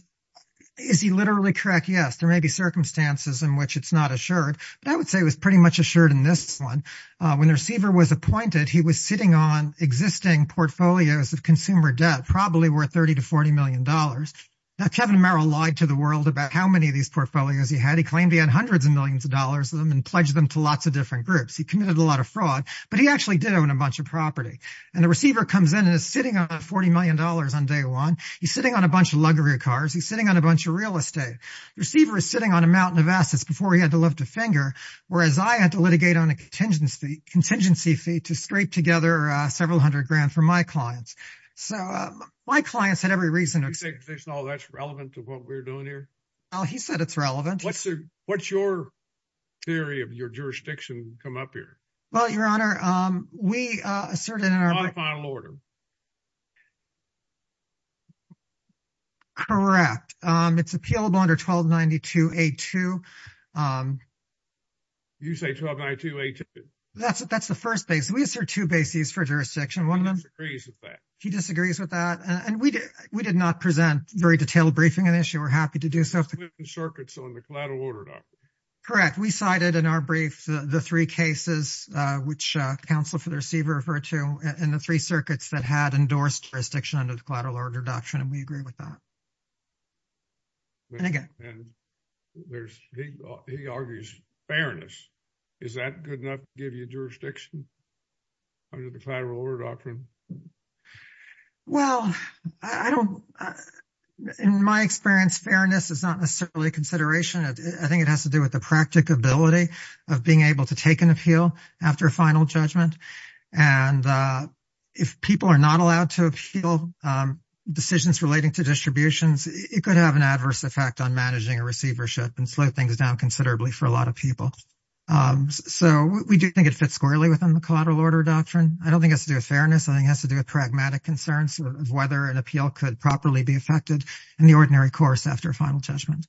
is he literally correct? Yes, there may be circumstances in which it's not assured. But I would say it was pretty much assured in this one. When the receiver was appointed, he was sitting on existing portfolios of consumer debt, probably worth $30 to $40 million. Now, Kevin Merrill lied to the world about how many of these portfolios he had. He claimed he had hundreds of millions of dollars of them and pledged them to lots of different groups. He committed a lot of fraud, but he actually did own a bunch of property. And the receiver comes in and is sitting on $40 million on day one. He's sitting on a bunch of luxury cars. He's sitting on a bunch of real estate. The receiver is sitting on a mountain of assets before he had to lift a finger, whereas I had to litigate on a contingency fee to scrape together several hundred grand for my clients. So my clients had every reason. Do you think all that's relevant to what we're doing here? Well, he said it's relevant. What's your theory of your jurisdiction come up here? Well, Your Honor, we asserted in our final order. Correct. It's appealable under 1292A2. You say 1292A2? That's the first base. We assert two bases for jurisdiction, one of them. He disagrees with that. He disagrees with that. And we did not present very detailed briefing on the issue. We're happy to do so. We cited in our brief the three cases, which counsel for the receiver referred to, and the three circuits that had endorsed jurisdiction under the collateral order doctrine. And we agree with that. And again. He argues fairness. Is that good enough to give you jurisdiction under the collateral order doctrine? Well, I don't. In my experience, fairness is not necessarily a consideration. I think it has to do with the practicability of being able to take an appeal after a final judgment. And if people are not allowed to appeal decisions relating to distributions, it could have an adverse effect on managing a receivership and slow things down considerably for a lot of people. So we do think it fits squarely within the collateral order doctrine. I don't think it has to do with fairness. I think it has to do with pragmatic concerns of whether an appeal could properly be effected in the ordinary course after a final judgment.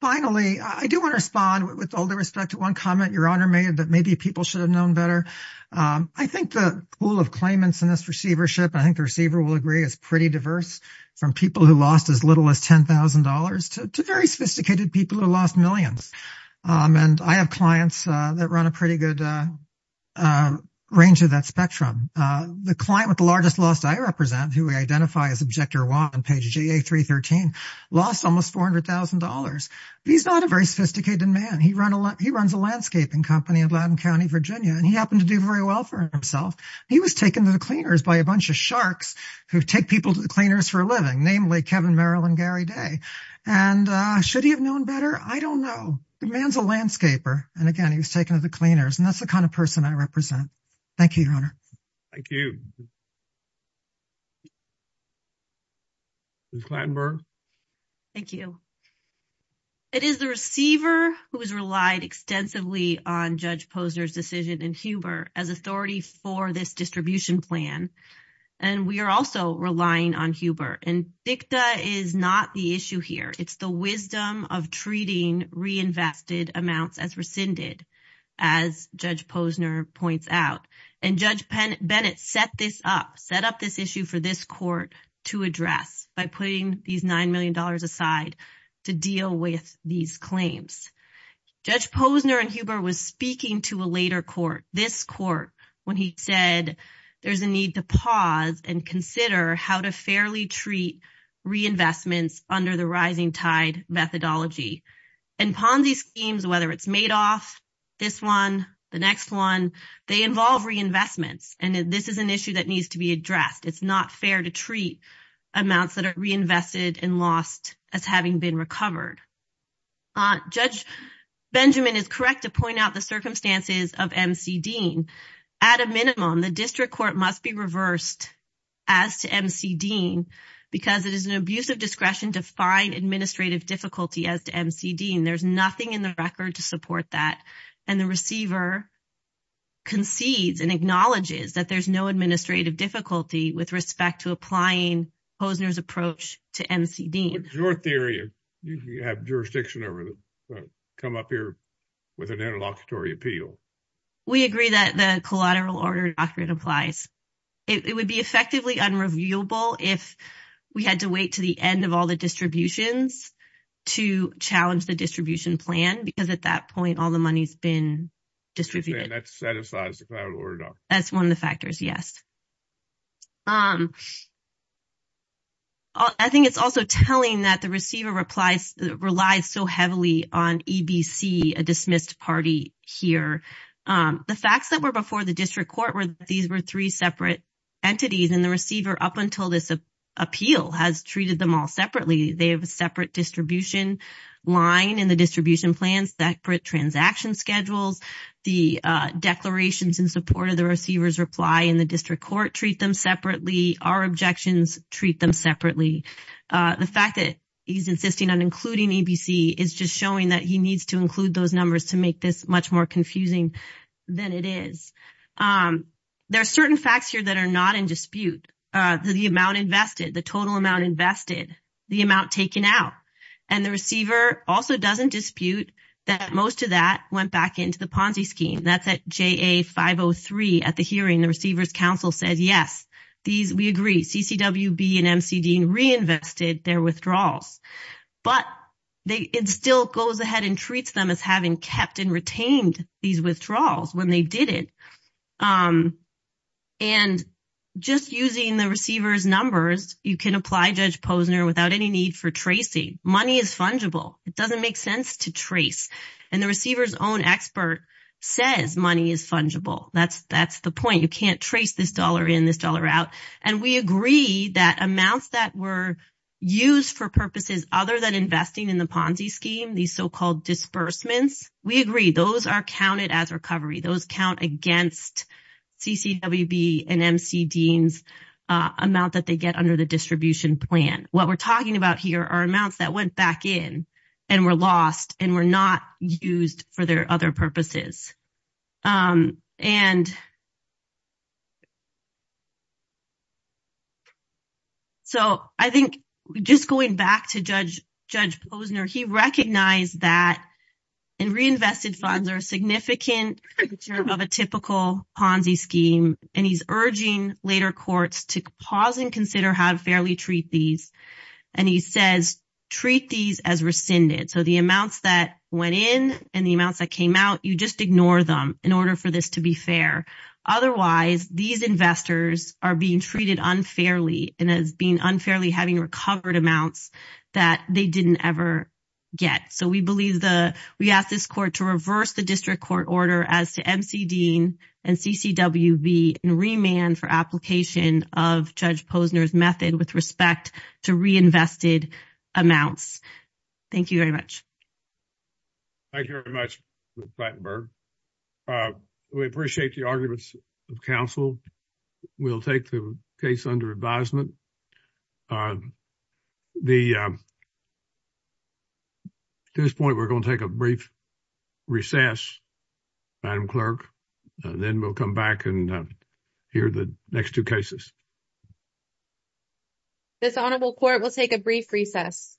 Finally, I do want to respond with all due respect to one comment Your Honor made that maybe people should have known better. I think the pool of claimants in this receivership, I think the receiver will agree, is pretty diverse from people who lost as little as $10,000 to very sophisticated people who lost millions. And I have clients that run a pretty good range of that spectrum. The client with the largest loss I represent, who we identify as Objector 1 on page GA313, lost almost $400,000. He's not a very sophisticated man. He runs a landscaping company in Latin County, Virginia, and he happened to do very well for himself. He was taken to the cleaners by a bunch of sharks who take people to the cleaners for a living, namely Kevin Merrill and Gary Day. And should he have known better? I don't know. The man's a landscaper. And again, he was taken to the cleaners. And that's the kind of person I represent. Thank you, Your Honor. Thank you. Ms. Glattenberg? Thank you. It is the receiver who has relied extensively on Judge Posner's decision in Huber as authority for this distribution plan. And we are also relying on Huber. And DICTA is not the issue here. It's the wisdom of treating reinvested amounts as rescinded, as Judge Posner points out. And Judge Bennett set this up, set up this issue for this court to address by putting these $9 million aside to deal with these claims. Judge Posner in Huber was speaking to a later court, this court, when he said there's a need to pause and consider how to fairly treat reinvestments under the rising tide methodology. And Ponzi schemes, whether it's Madoff, this one, the next one, they involve reinvestments. And this is an issue that needs to be addressed. It's not fair to treat amounts that are reinvested and lost as having been recovered. Judge Benjamin is correct to point out the circumstances of M.C. Dean. At a minimum, the district court must be reversed as to M.C. Dean because it is an abuse of discretion to find administrative difficulty as to M.C. Dean. There's nothing in the record to support that. And the receiver concedes and acknowledges that there's no administrative difficulty with respect to applying Posner's approach to M.C. Dean. Your theory, you have jurisdiction over, come up here with an interlocutory appeal. We agree that the collateral order doctrine applies. It would be effectively unreviewable if we had to wait to the end of all the distributions to challenge the distribution plan. Because at that point, all the money's been distributed. That satisfies the collateral order doctrine. That's one of the factors, yes. I think it's also telling that the receiver relies so heavily on E.B.C., a dismissed party, here. The facts that were before the district court were that these were three separate entities. And the receiver, up until this appeal, has treated them all separately. They have a separate distribution line in the distribution plans, separate transaction schedules. The declarations in support of the receiver's reply in the district court treat them separately. Our objections treat them separately. The fact that he's insisting on including E.B.C. is just showing that he needs to include those numbers to make this much more confusing than it is. There are certain facts here that are not in dispute. The amount invested, the total amount invested, the amount taken out. And the receiver also doesn't dispute that most of that went back into the Ponzi scheme. That's at JA 503 at the hearing. The receiver's counsel said, yes, we agree. CCWB and MCD reinvested their withdrawals. But it still goes ahead and treats them as having kept and retained these withdrawals when they did it. And just using the receiver's numbers, you can apply Judge Posner without any need for tracing. Money is fungible. It doesn't make sense to trace. And the receiver's own expert says money is fungible. That's the point. You can't trace this dollar in, this dollar out. And we agree that amounts that were used for purposes other than investing in the Ponzi scheme, these so-called disbursements, we agree. Those are counted as recovery. Those count against CCWB and MCD's amount that they get under the distribution plan. What we're talking about here are amounts that went back in and were lost and were not used for their other purposes. And so I think just going back to Judge Posner, he recognized that reinvested funds are a significant part of a typical Ponzi scheme. And he's urging later courts to pause and consider how to fairly treat these. And he says, treat these as rescinded. So the amounts that went in and the amounts that came out, you just ignore them in order for this to be fair. Otherwise, these investors are being treated unfairly and as being unfairly having recovered amounts that they didn't ever get. So we believe the, we ask this court to reverse the district court order as to MCD and CCWB and remand for application of Judge Posner's method with respect to reinvested amounts. Thank you very much. Thank you very much, Ms. Blattenberg. We appreciate the arguments of counsel. We'll take the case under advisement. The, at this point, we're going to take a brief recess, Madam Clerk. Then we'll come back and hear the next two cases. This honorable court will take a brief recess.